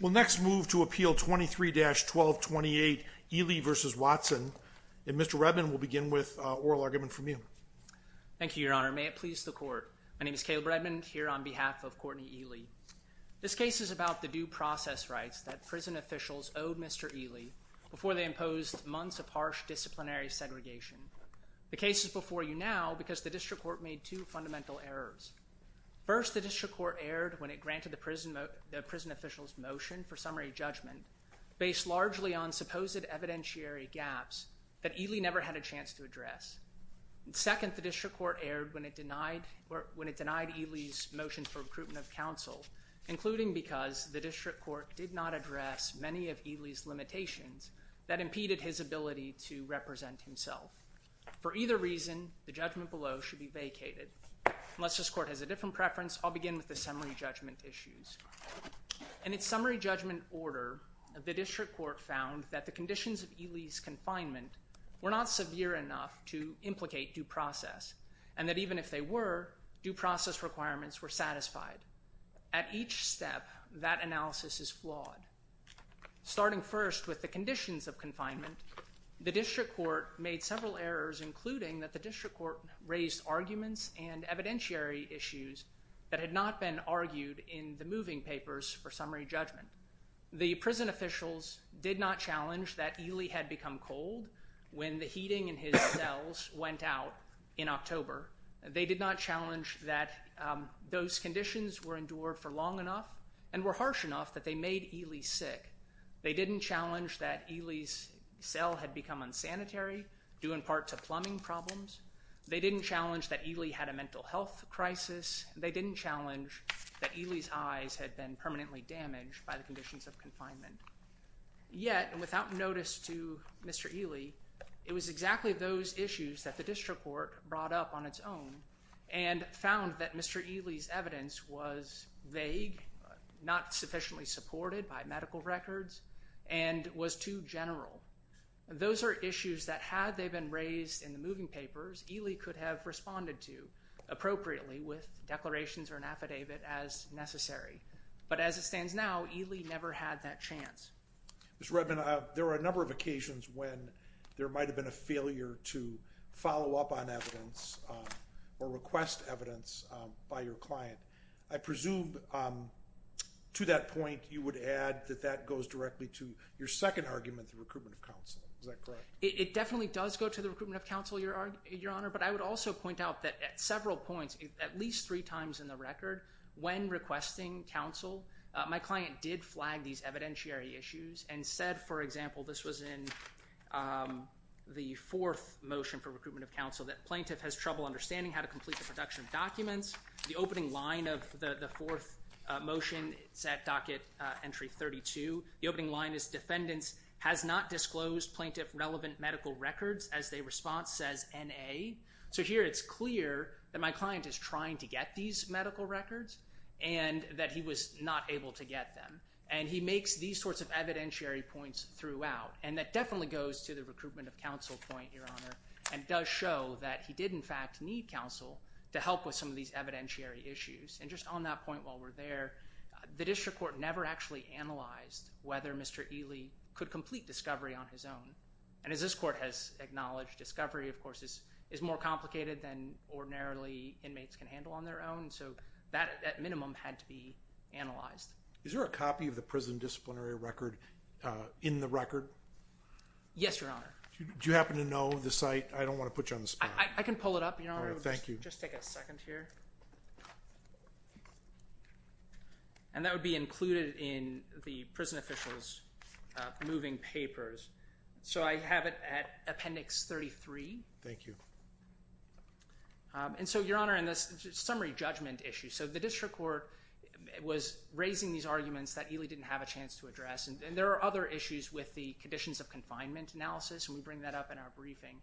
We'll next move to Appeal 23-1228 Ealy v. Watson, and Mr. Redman will begin with oral argument from you. Thank you, Your Honor. May it please the Court. My name is Caleb Redman, here on behalf of Courtney Ealy. This case is about the due process rights that prison officials owed Mr. Ealy before they imposed months of harsh disciplinary segregation. The case is before you now because the District Court made two fundamental errors. First, the District Court erred when it granted the prison official's motion for summary judgment based largely on supposed evidentiary gaps that Ealy never had a chance to address. Second, the District Court erred when it denied Ealy's motion for recruitment of counsel, including because the District Court did not address many of Ealy's limitations that impeded his ability to represent himself. For either reason, the judgment below should be vacated. Unless this Court has a different preference, I'll begin with the summary judgment issues. In its summary judgment order, the District Court found that the conditions of Ealy's confinement were not severe enough to implicate due process, and that even if they were, due process requirements were satisfied. At each step, that analysis is flawed. Starting first with the conditions of confinement, the District Court made several errors, including that the District Court raised arguments and evidentiary issues that had not been argued in the moving papers for summary judgment. The prison officials did not challenge that Ealy had become cold when the heating in his cells went out in October. They did not challenge that those conditions were endured for long enough and were harsh enough that they made Ealy sick. They didn't challenge that Ealy's cell had become unsanitary due in part to plumbing problems. They didn't challenge that Ealy had a mental health crisis. They didn't challenge that Ealy's eyes had been permanently damaged by the conditions of confinement. Yet, and without notice to Mr. Ealy, it was exactly those issues that the District Court brought up on its own and found that Mr. Ealy's evidence was vague, not sufficiently supported by medical records, and was too general. Those are issues that had they been raised in the moving papers, Ealy could have responded to appropriately with declarations or an affidavit as necessary. But as it stands now, Ealy never had that chance. Mr. Redman, there were a number of occasions when there might have been a failure to follow up on evidence or request evidence by your client. I presume, to that point, you would add that that goes directly to your second argument, the recruitment of counsel. Is that correct? It definitely does go to the recruitment of counsel, Your Honor, but I would also point out that at several points, at least three times in the record, when requesting counsel, my client did flag these evidentiary issues and said, for example, this was in the fourth motion for recruitment of counsel, that plaintiff has trouble understanding how to complete the production of documents. The opening line of the fourth motion, it's at docket entry 32, the opening line is defendants has not disclosed plaintiff-relevant medical records as their response says N.A. So here it's clear that my client is trying to get these medical records and that he was not able to get them. And he makes these sorts of evidentiary points throughout. And that definitely goes to the recruitment of counsel point, Your Honor, and does show that he did, in fact, need counsel to help with some of these evidentiary issues. And just on that point while we're there, the district court never actually analyzed whether Mr. Ely could complete discovery on his own. And as this court has acknowledged, discovery, of course, is more complicated than ordinarily inmates can handle on their own. So that, at minimum, had to be analyzed. Is there a copy of the prison disciplinary record in the record? Yes, Your Honor. Do you happen to know the site? I don't want to put you on the spot. I can pull it up, Your Honor. All right. Thank you. Just take a second here. And that would be included in the prison official's moving papers. So I have it at appendix 33. Thank you. And so, Your Honor, in this summary judgment issue, so the district court was raising these arguments that Ely didn't have a chance to address. And there are other issues with the conditions of confinement analysis, and we bring that up in our briefing.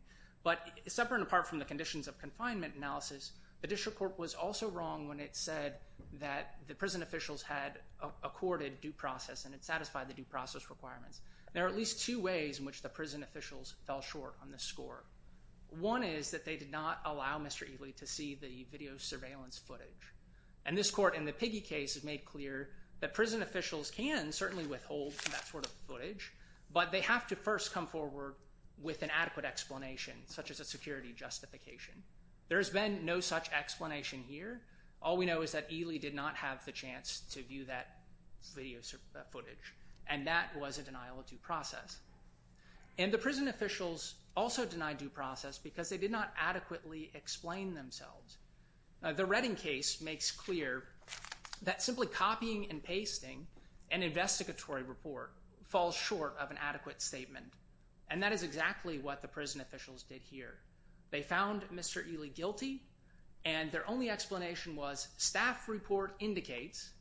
But separate and apart from the conditions of confinement analysis, the district court was also wrong when it said that the prison officials had accorded due process and it satisfied the due process requirements. There are at least two ways in which the prison officials fell short on this score. One is that they did not allow Mr. Ely to see the video surveillance footage. And this court, in the Piggy case, has made clear that prison officials can certainly withhold that sort of footage. But they have to first come forward with an adequate explanation, such as a security justification. There has been no such explanation here. All we know is that Ely did not have the chance to view that video footage. And that was a denial of due process. And the prison officials also denied due process because they did not adequately explain themselves. The Redding case makes clear that simply copying and pasting an investigatory report falls short of an adequate statement. And that is exactly what the prison officials did here. They found Mr. Ely guilty, and their only explanation was, staff report indicates,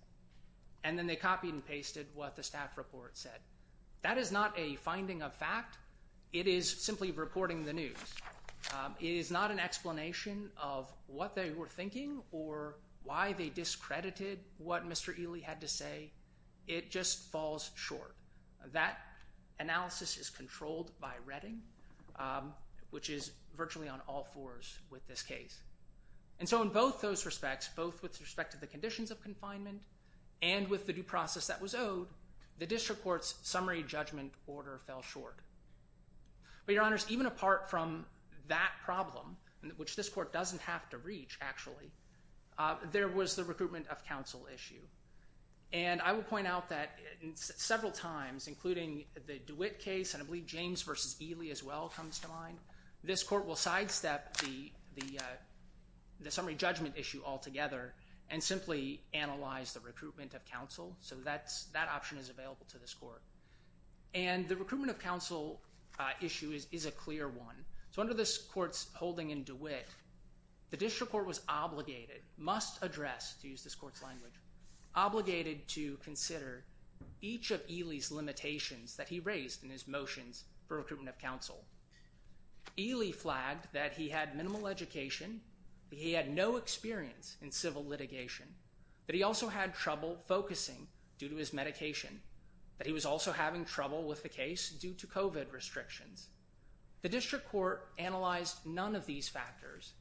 and then they copied and pasted what the staff report said. That is not a finding of fact. It is simply reporting the news. It is not an explanation of what they were thinking or why they discredited what Mr. Ely had to say. It just falls short. That analysis is controlled by Redding, which is virtually on all fours with this case. And so in both those respects, both with respect to the conditions of confinement and with the due process that was owed, the district court's summary judgment order fell short. But your honors, even apart from that problem, which this court doesn't have to reach, actually, there was the recruitment of counsel issue. And I will point out that several times, including the DeWitt case, and I believe James v. Ely as well comes to mind, this court will sidestep the summary judgment issue altogether and simply analyze the recruitment of counsel. So that option is available to this court. And the recruitment of counsel issue is a clear one. So under this court's holding in DeWitt, the district court was obligated, must address, to use this court's language, obligated to consider each of Ely's limitations that he raised in his motions for recruitment of counsel. Ely flagged that he had minimal education, that he had no experience in civil litigation, that he also had trouble focusing due to his medication, that he was also having trouble with the case due to COVID restrictions. The district court analyzed none of these factors.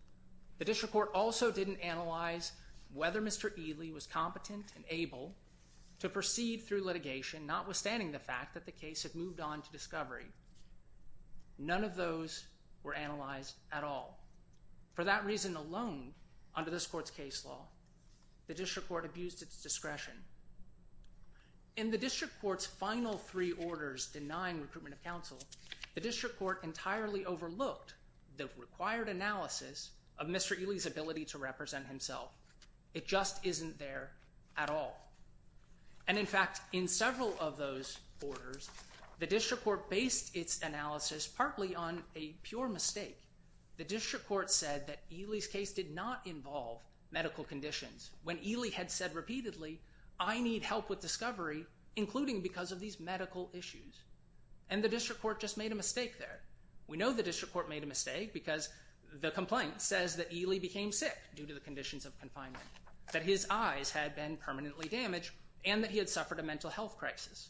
The district court also didn't analyze whether Mr. Ely was competent and able to proceed through litigation, notwithstanding the fact that the case had moved on to discovery. None of those were analyzed at all. For that reason alone, under this court's case law, the district court abused its discretion. In the district court's final three orders denying recruitment of counsel, the district court entirely overlooked the required analysis of Mr. Ely's ability to represent himself. It just isn't there at all. And in fact, in several of those orders, the district court based its analysis partly on a pure mistake. The district court said that Ely's case did not involve medical conditions when Ely had said repeatedly, I need help with discovery, including because of these medical issues. And the district court just made a mistake there. We know the district court made a mistake because the complaint says that Ely became sick due to the conditions of confinement, that his eyes had been permanently damaged and that he had suffered a mental health crisis.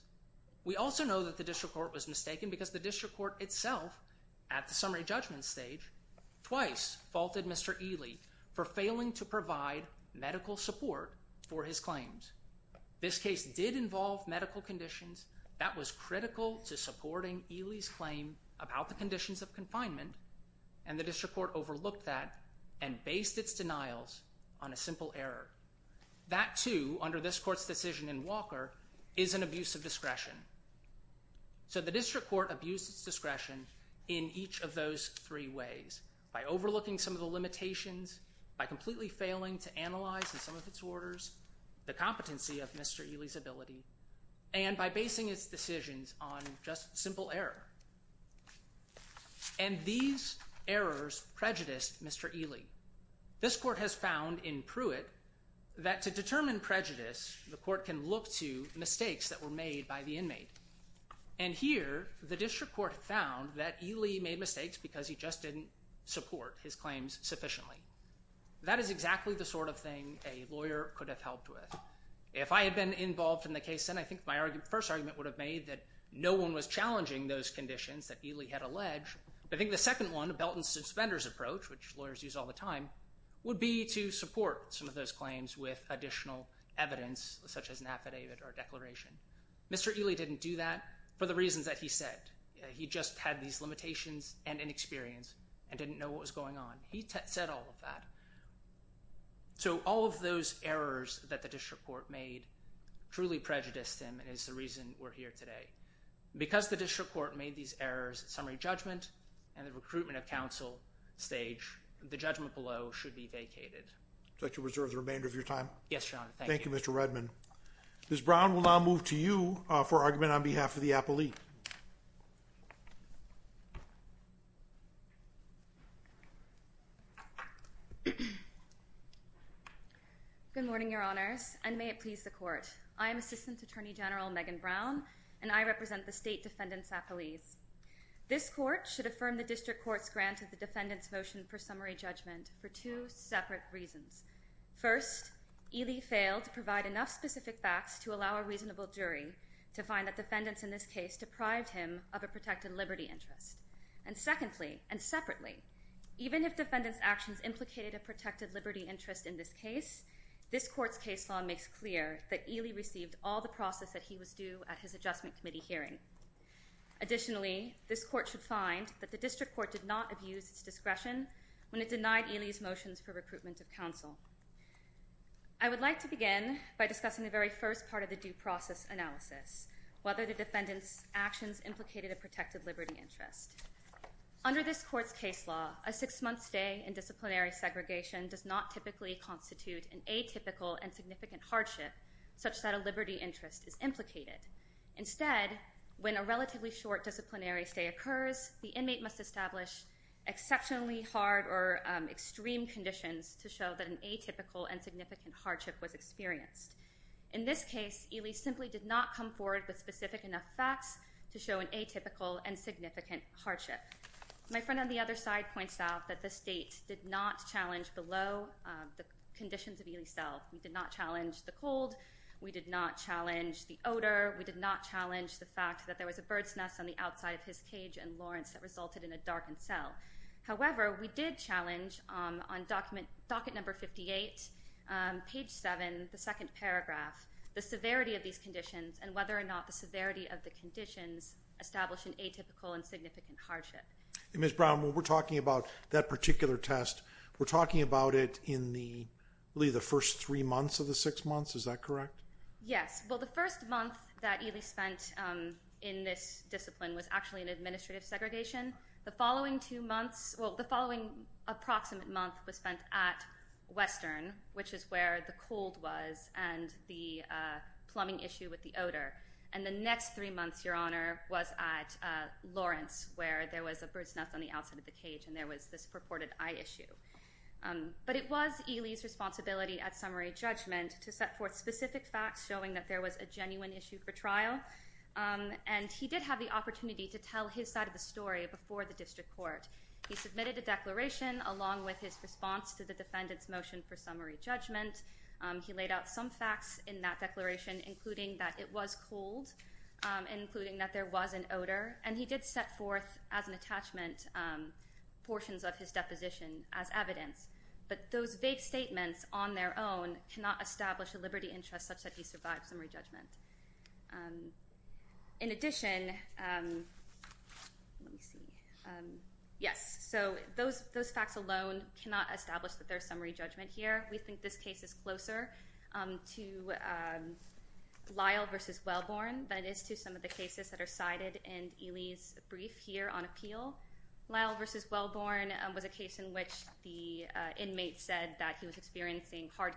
We also know that the district court was mistaken because the district court itself, at the summary judgment stage, twice faulted Mr. Ely for failing to provide medical support for his claims. This case did involve medical conditions. That was critical to supporting Ely's claim about the conditions of confinement. And the district court overlooked that and based its denials on a simple error. That too, under this court's decision in Walker, is an abuse of discretion. So the district court abused its discretion in each of those three ways, by overlooking some of the limitations, by completely failing to analyze in some of its orders the competency of Mr. Ely's ability, and by basing its decisions on just simple error. And these errors prejudiced Mr. Ely. This court has found in Pruitt that to determine prejudice, the court can look to mistakes that were made by the inmate. And here, the district court found that Ely made mistakes because he just didn't support his claims sufficiently. That is exactly the sort of thing a lawyer could have helped with. If I had been involved in the case then, I think my first argument would have made that no one was challenging those conditions that Ely had alleged. But I think the second one, a belt and suspenders approach, which lawyers use all the time, would be to support some of those claims with additional evidence, such as an affidavit or declaration. Mr. Ely didn't do that for the reasons that he said. He just had these limitations and inexperience and didn't know what was going on. He said all of that. So all of those errors that the district court made truly prejudiced him and is the reason we're here today. Because the district court made these errors at summary judgment and the recruitment of counsel stage, the judgment below should be vacated. Would you like to reserve the remainder of your time? Yes, Your Honor. Thank you. Thank you, Mr. Redman. Ms. Brown will now move to you for argument on behalf of the appellee. Good morning, Your Honors, and may it please the Court. I am Assistant Attorney General Megan Brown, and I represent the State Defendant's Appellees. This Court should affirm the district court's grant of the defendant's motion for summary judgment for two separate reasons. First, Ely failed to provide enough specific facts to allow a reasonable jury to find that defendants in this case deprived him of a protected liberty interest. And secondly, and separately, even if defendants' actions implicated a protected liberty interest in this case, this Court's case law makes clear that Ely received all the process that he was due at his Adjustment Committee hearing. Additionally, this Court should find that the district court did not abuse its discretion when it denied Ely's motions for recruitment of counsel. I would like to begin by discussing the very first part of the due process analysis, whether defendants' actions implicated a protected liberty interest. Under this Court's case law, a six-month stay in disciplinary segregation does not typically constitute an atypical and significant hardship such that a liberty interest is implicated. Instead, when a relatively short disciplinary stay occurs, the inmate must establish exceptionally hard or extreme conditions to show that an atypical and significant hardship was experienced. In this case, Ely simply did not come forward with specific enough facts to show an atypical and significant hardship. My friend on the other side points out that the State did not challenge below the conditions of Ely's cell. We did not challenge the cold. We did not challenge the odor. We did not challenge the fact that there was a bird's nest on the outside of his cage in Lawrence that resulted in a darkened cell. However, we did challenge on docket number 58, page 7, the second paragraph, the severity of these conditions and whether or not the severity of the conditions established an atypical and significant hardship. Ms. Brown, when we're talking about that particular test, we're talking about it in the first three months of the six months. Is that correct? Yes. Well, the first month that Ely spent in this discipline was actually an administrative segregation. The following two months, well, the following approximate month was spent at Western, which is where the cold was and the plumbing issue with the odor. And the next three months, Your Honor, was at Lawrence where there was a bird's nest on the outside of the cage and there was this purported eye issue. But it was Ely's responsibility at summary judgment to set forth specific facts showing that there was a genuine issue for trial. And he did have the opportunity to tell his side of the story before the district court. He submitted a declaration along with his response to the defendant's motion for summary judgment. He laid out some facts in that declaration, including that it was cold, including that there was an odor. And he did set forth as an attachment portions of his deposition as evidence. But those vague statements on their own cannot establish a liberty interest such that he In addition, let me see. Yes, so those facts alone cannot establish that there is summary judgment here. We think this case is closer to Lyle versus Wellborn than it is to some of the cases that are cited in Ely's brief here on appeal. Lyle versus Wellborn was a case in which the inmate said that he was experiencing hard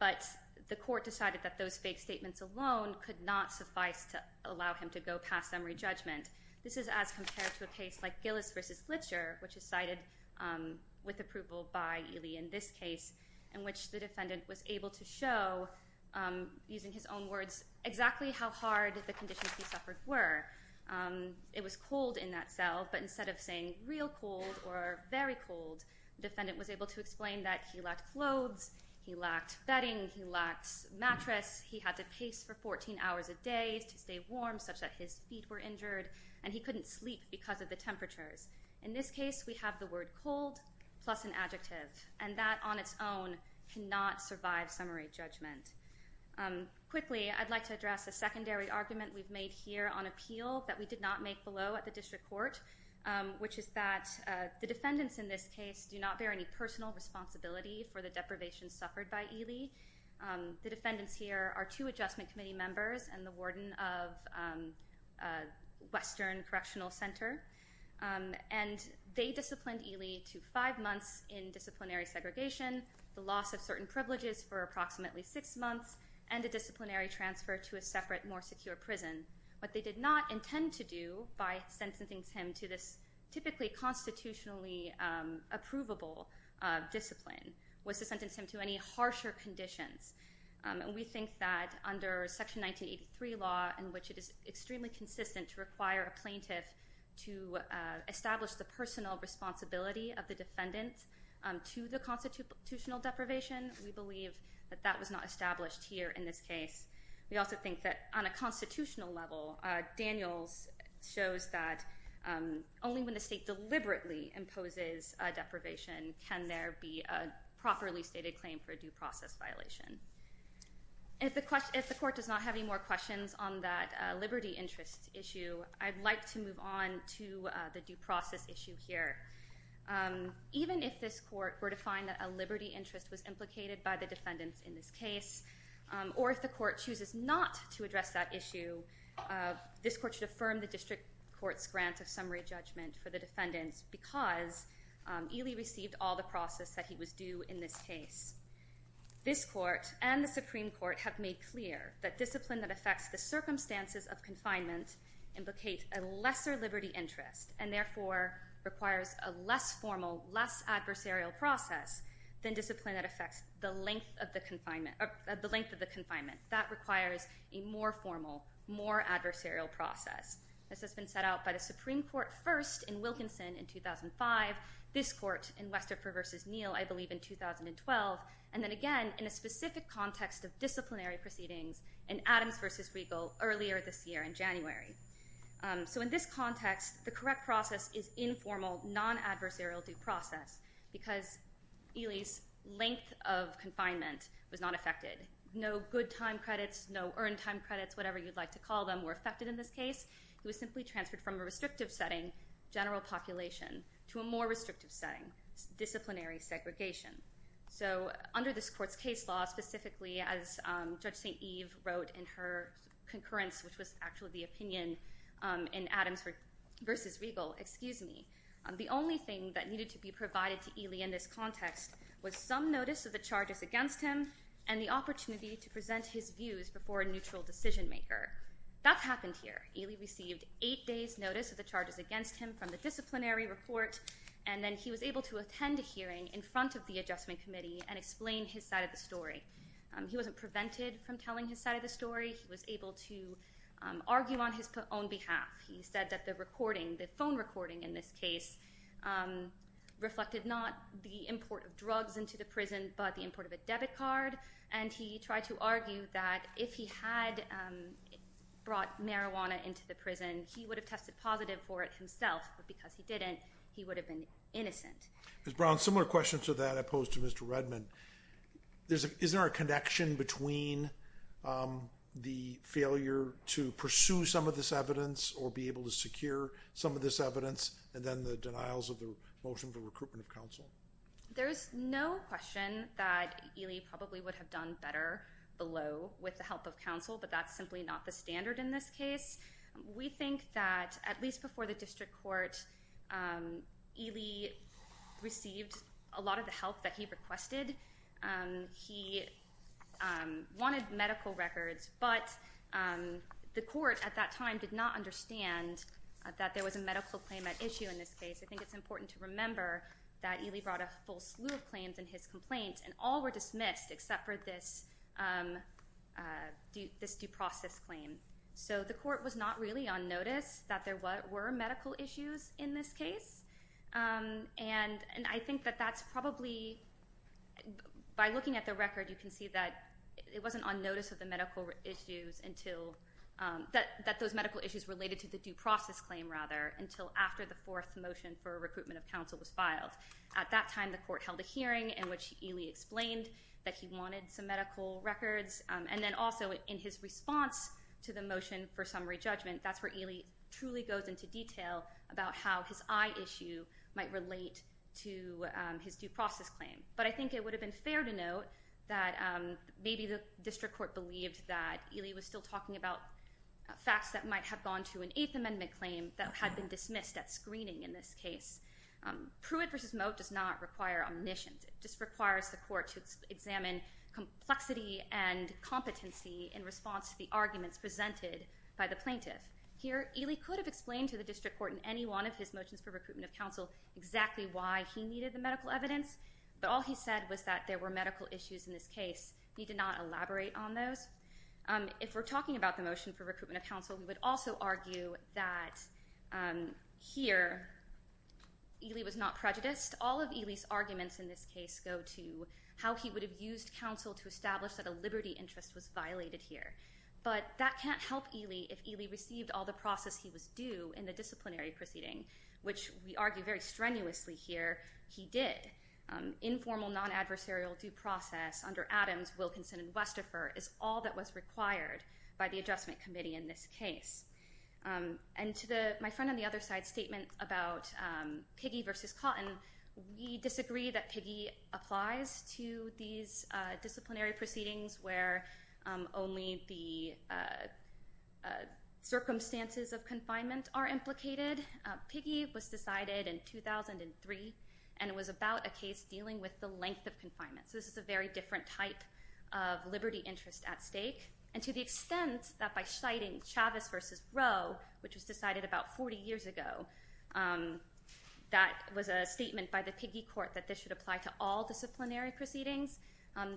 But the court decided that those vague statements alone could not suffice to allow him to go past summary judgment. This is as compared to a case like Gillis versus Glitcher, which is cited with approval by Ely in this case, in which the defendant was able to show, using his own words, exactly how hard the conditions he suffered were. It was cold in that cell. But instead of saying real cold or very cold, the defendant was able to explain that he He lacked bedding. He lacked mattress. He had to pace for 14 hours a day to stay warm, such that his feet were injured. And he couldn't sleep because of the temperatures. In this case, we have the word cold plus an adjective. And that on its own cannot survive summary judgment. Quickly, I'd like to address a secondary argument we've made here on appeal that we did not make below at the district court, which is that the defendants in this case do not bear any personal responsibility for the deprivation suffered by Ely. The defendants here are two Adjustment Committee members and the warden of Western Correctional Center. And they disciplined Ely to five months in disciplinary segregation, the loss of certain privileges for approximately six months, and a disciplinary transfer to a separate, more secure prison. What they did not intend to do by sentencing him to this typically constitutionally approvable discipline was to sentence him to any harsher conditions. And we think that under Section 1983 law, in which it is extremely consistent to require a plaintiff to establish the personal responsibility of the defendant to the constitutional deprivation, we believe that that was not established here in this case. We also think that on a constitutional level, Daniels shows that only when the state deliberately imposes a deprivation can there be a properly stated claim for a due process violation. If the court does not have any more questions on that liberty interest issue, I'd like to move on to the due process issue here. Even if this court were to find that a liberty interest was implicated by the defendants in this case, or if the court chooses not to address that issue, this court should affirm the district court's grant of summary judgment for the defendants because Ely received all the process that he was due in this case. This court and the Supreme Court have made clear that discipline that affects the circumstances of confinement implicate a lesser liberty interest, and therefore requires a less formal, less adversarial process than discipline that affects the length of the confinement. That requires a more formal, more adversarial process. This has been set out by the Supreme Court first in Wilkinson in 2005, this court in Westerfer v. Neal, I believe, in 2012, and then again in a specific context of disciplinary proceedings in Adams v. Regal earlier this year in January. So in this context, the correct process is informal, non-adversarial due process because Ely's length of confinement was not affected. No good time credits, no earned time credits, whatever you'd like to call them, were affected in this case. He was simply transferred from a restrictive setting, general population, to a more restrictive setting, disciplinary segregation. So under this court's case law, specifically as Judge St. Eve wrote in her concurrence, which was actually the opinion in Adams v. Regal, excuse me, the only thing that needed to be provided to Ely in this context was some notice of the charges against him and the opportunity to present his views before a neutral decision maker. That's happened here. Ely received eight days' notice of the charges against him from the disciplinary report, and then he was able to attend a hearing in front of the adjustment committee and explain his side of the story. He wasn't prevented from telling his side of the story. He was able to argue on his own behalf. He said that the recording, the phone recording in this case, reflected not the import of drugs into the prison, but the import of a debit card, and he tried to argue that if he had brought marijuana into the prison, he would have tested positive for it himself, but because he didn't, he would have been innocent. Ms. Brown, similar question to that I posed to Mr. Redman. Is there a connection between the failure to pursue some of this evidence or be able to secure some of this evidence and then the denials of the motion for recruitment of counsel? There's no question that Ely probably would have done better below with the help of counsel, but that's simply not the standard in this case. We think that at least before the district court, Ely received a lot of the help that he needed. He wanted medical records, but the court at that time did not understand that there was a medical claim at issue in this case. I think it's important to remember that Ely brought a full slew of claims in his complaint and all were dismissed except for this due process claim. So the court was not really on notice that there were medical issues in this case, and I think that that's probably, by looking at the record you can see that it wasn't on notice of the medical issues until, that those medical issues related to the due process claim rather, until after the fourth motion for recruitment of counsel was filed. At that time the court held a hearing in which Ely explained that he wanted some medical records, and then also in his response to the motion for summary judgment, that's where might relate to his due process claim. But I think it would have been fair to note that maybe the district court believed that Ely was still talking about facts that might have gone to an Eighth Amendment claim that had been dismissed at screening in this case. Pruitt v. Moat does not require omniscience. It just requires the court to examine complexity and competency in response to the arguments presented by the plaintiff. Here, Ely could have explained to the district court in any one of his motions for recruitment of counsel exactly why he needed the medical evidence, but all he said was that there were medical issues in this case. He did not elaborate on those. If we're talking about the motion for recruitment of counsel, we would also argue that here Ely was not prejudiced. All of Ely's arguments in this case go to how he would have used counsel to establish that a liberty interest was violated here. But that can't help Ely if Ely received all the process he was due in the disciplinary proceeding, which we argue very strenuously here he did. Informal non-adversarial due process under Adams, Wilkinson, and Westepher is all that was required by the adjustment committee in this case. And to my friend on the other side's statement about Piggy v. Cotton, we disagree that Piggy applies to these disciplinary proceedings where only the circumstances of confinement are implicated. Piggy was decided in 2003, and it was about a case dealing with the length of confinement. So this is a very different type of liberty interest at stake. And to the extent that by citing Chavez v. Roe, which was decided about 40 years ago, that was a statement by the Piggy court that this should apply to all disciplinary proceedings.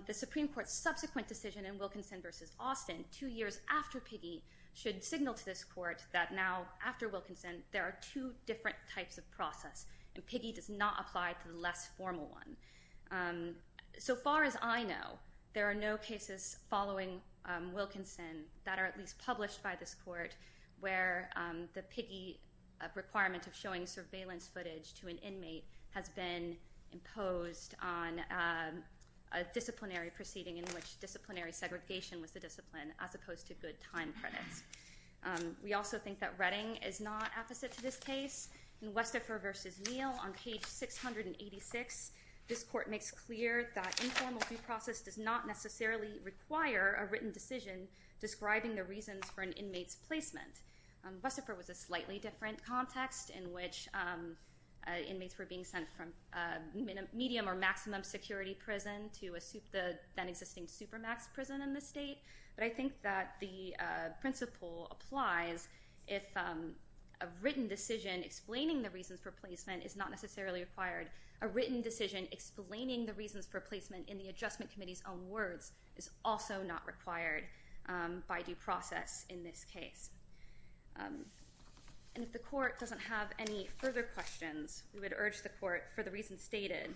The Supreme Court's subsequent decision in Wilkinson v. Austin, two years after Piggy, should signal to this court that now, after Wilkinson, there are two different types of process, and Piggy does not apply to the less formal one. So far as I know, there are no cases following Wilkinson that are at least published by this footage to an inmate has been imposed on a disciplinary proceeding in which disciplinary segregation was the discipline, as opposed to good time credits. We also think that Redding is not apposite to this case. In Westepher v. Neal, on page 686, this court makes clear that informal due process does not necessarily require a written decision describing the reasons for an inmate's placement. Westepher was a slightly different context in which inmates were being sent from a medium or maximum security prison to a then existing supermax prison in the state. But I think that the principle applies if a written decision explaining the reasons for placement is not necessarily required, a written decision explaining the reasons for placement in the adjustment committee's own words is also not required by due process in this case. And if the court doesn't have any further questions, we would urge the court, for the reasons stated,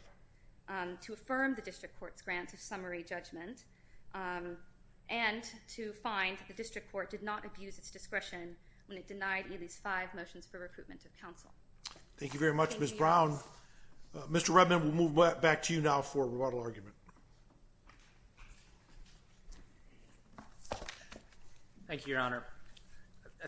to affirm the district court's grant of summary judgment and to find that the district court did not abuse its discretion when it denied Ely's five motions for recruitment of counsel. Thank you very much, Ms. Brown. Mr. Redman, we'll move back to you now for a rebuttal argument. Thank you, Your Honor.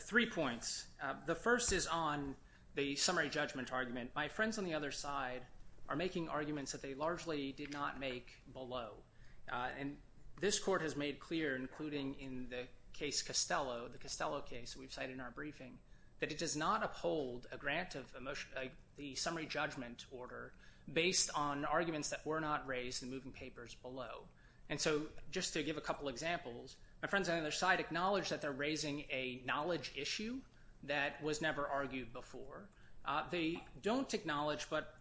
Three points. The first is on the summary judgment argument. My friends on the other side are making arguments that they largely did not make below. And this court has made clear, including in the case Costello, the Costello case we've cited in our briefing, that it does not uphold a grant of the summary judgment order based on arguments that were not raised in the moving papers below. And so just to give a couple examples, my friends on the other side acknowledge that they're raising a knowledge issue that was never argued before. They don't acknowledge, but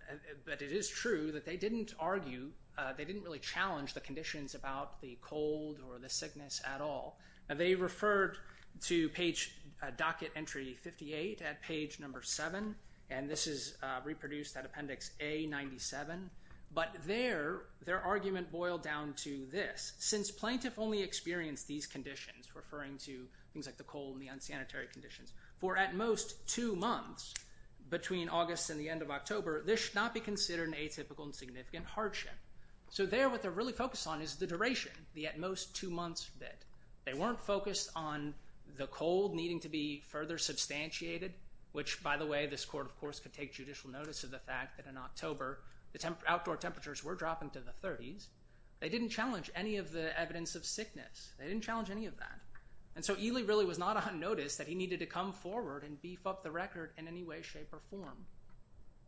it is true, that they didn't argue, they didn't really challenge the conditions about the cold or the sickness at all. They referred to page, docket entry 58 at page number 7, and this is reproduced at appendix A97, but their argument boiled down to this. Since plaintiff only experienced these conditions, referring to things like the cold and the unsanitary conditions, for at most two months between August and the end of October, this should not be considered an atypical and significant hardship. So there, what they're really focused on is the duration, the at most two months bit. They weren't focused on the cold needing to be further substantiated, which, by the way, this court, of course, could take judicial notice of the fact that in October the outdoor temperatures were dropping to the 30s. They didn't challenge any of the evidence of sickness. They didn't challenge any of that. And so Ely really was not unnoticed that he needed to come forward and beef up the record in any way, shape, or form.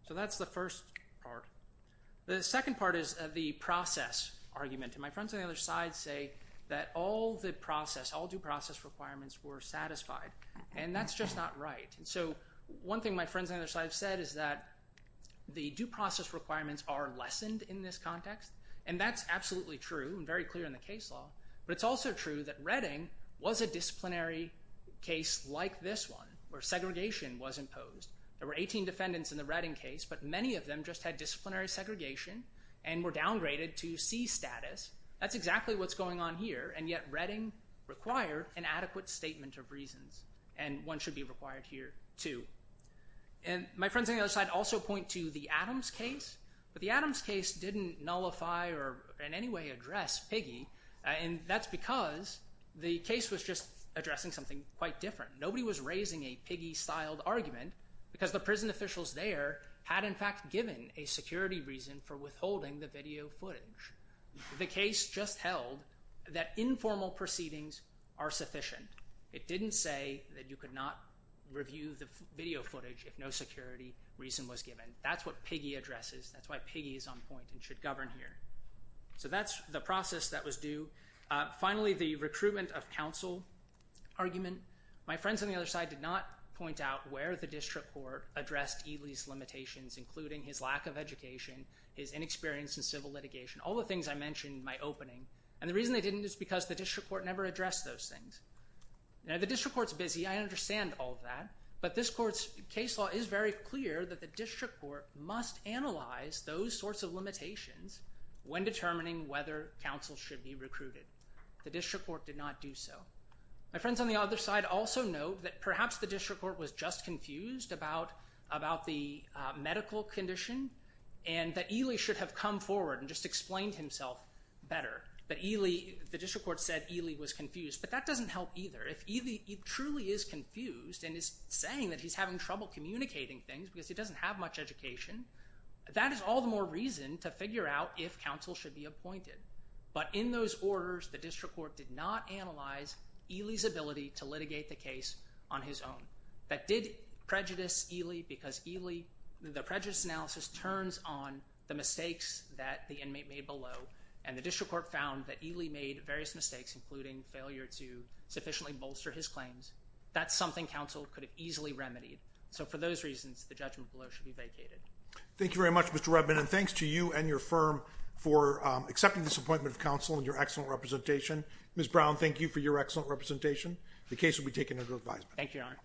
So that's the first part. The second part is the process argument. And my friends on the other side say that all the process, all due process requirements were satisfied, and that's just not right. And so one thing my friends on the other side have said is that the due process requirements are lessened in this context. And that's absolutely true and very clear in the case law. But it's also true that Redding was a disciplinary case like this one, where segregation was imposed. There were 18 defendants in the Redding case, but many of them just had disciplinary segregation and were downgraded to C status. That's exactly what's going on here, and yet Redding required an adequate statement of reasons. And one should be required here, too. And my friends on the other side also point to the Adams case. But the Adams case didn't nullify or in any way address Piggy. And that's because the case was just addressing something quite different. Nobody was raising a Piggy-styled argument because the prison officials there had, in fact, given a security reason for withholding the video footage. The case just held that informal proceedings are sufficient. It didn't say that you could not review the video footage if no security reason was given. That's what Piggy addresses. That's why Piggy is on point and should govern here. So that's the process that was due. Finally, the recruitment of counsel argument. My friends on the other side did not point out where the district court addressed Ely's limitations, including his lack of education, his inexperience in civil litigation. All the things I mentioned in my opening. And the reason they didn't is because the district court never addressed those things. Now, the district court's busy. I understand all of that. But this court's case law is very clear that the district court must analyze those sorts of limitations when determining whether counsel should be recruited. The district court did not do so. My friends on the other side also note that perhaps the district court was just confused about the medical condition and that Ely should have come forward and just explained himself better. The district court said Ely was confused. But that doesn't help either. If Ely truly is confused and is saying that he's having trouble communicating things because he doesn't have much education, that is all the more reason to figure out if counsel should be appointed. But in those orders, the district court did not analyze Ely's ability to litigate the case on his own. That did prejudice Ely because the prejudice analysis turns on the mistakes that the inmate made below. And the district court found that Ely made various mistakes, including failure to sufficiently bolster his claims. That's something counsel could have easily remedied. So for those reasons, the judgment below should be vacated. Thank you very much, Mr. Redman. And thanks to you and your firm for accepting this appointment of counsel and your excellent representation. Ms. Brown, thank you for your excellent representation. The case will be taken under advisement. Thank you, Your Honor.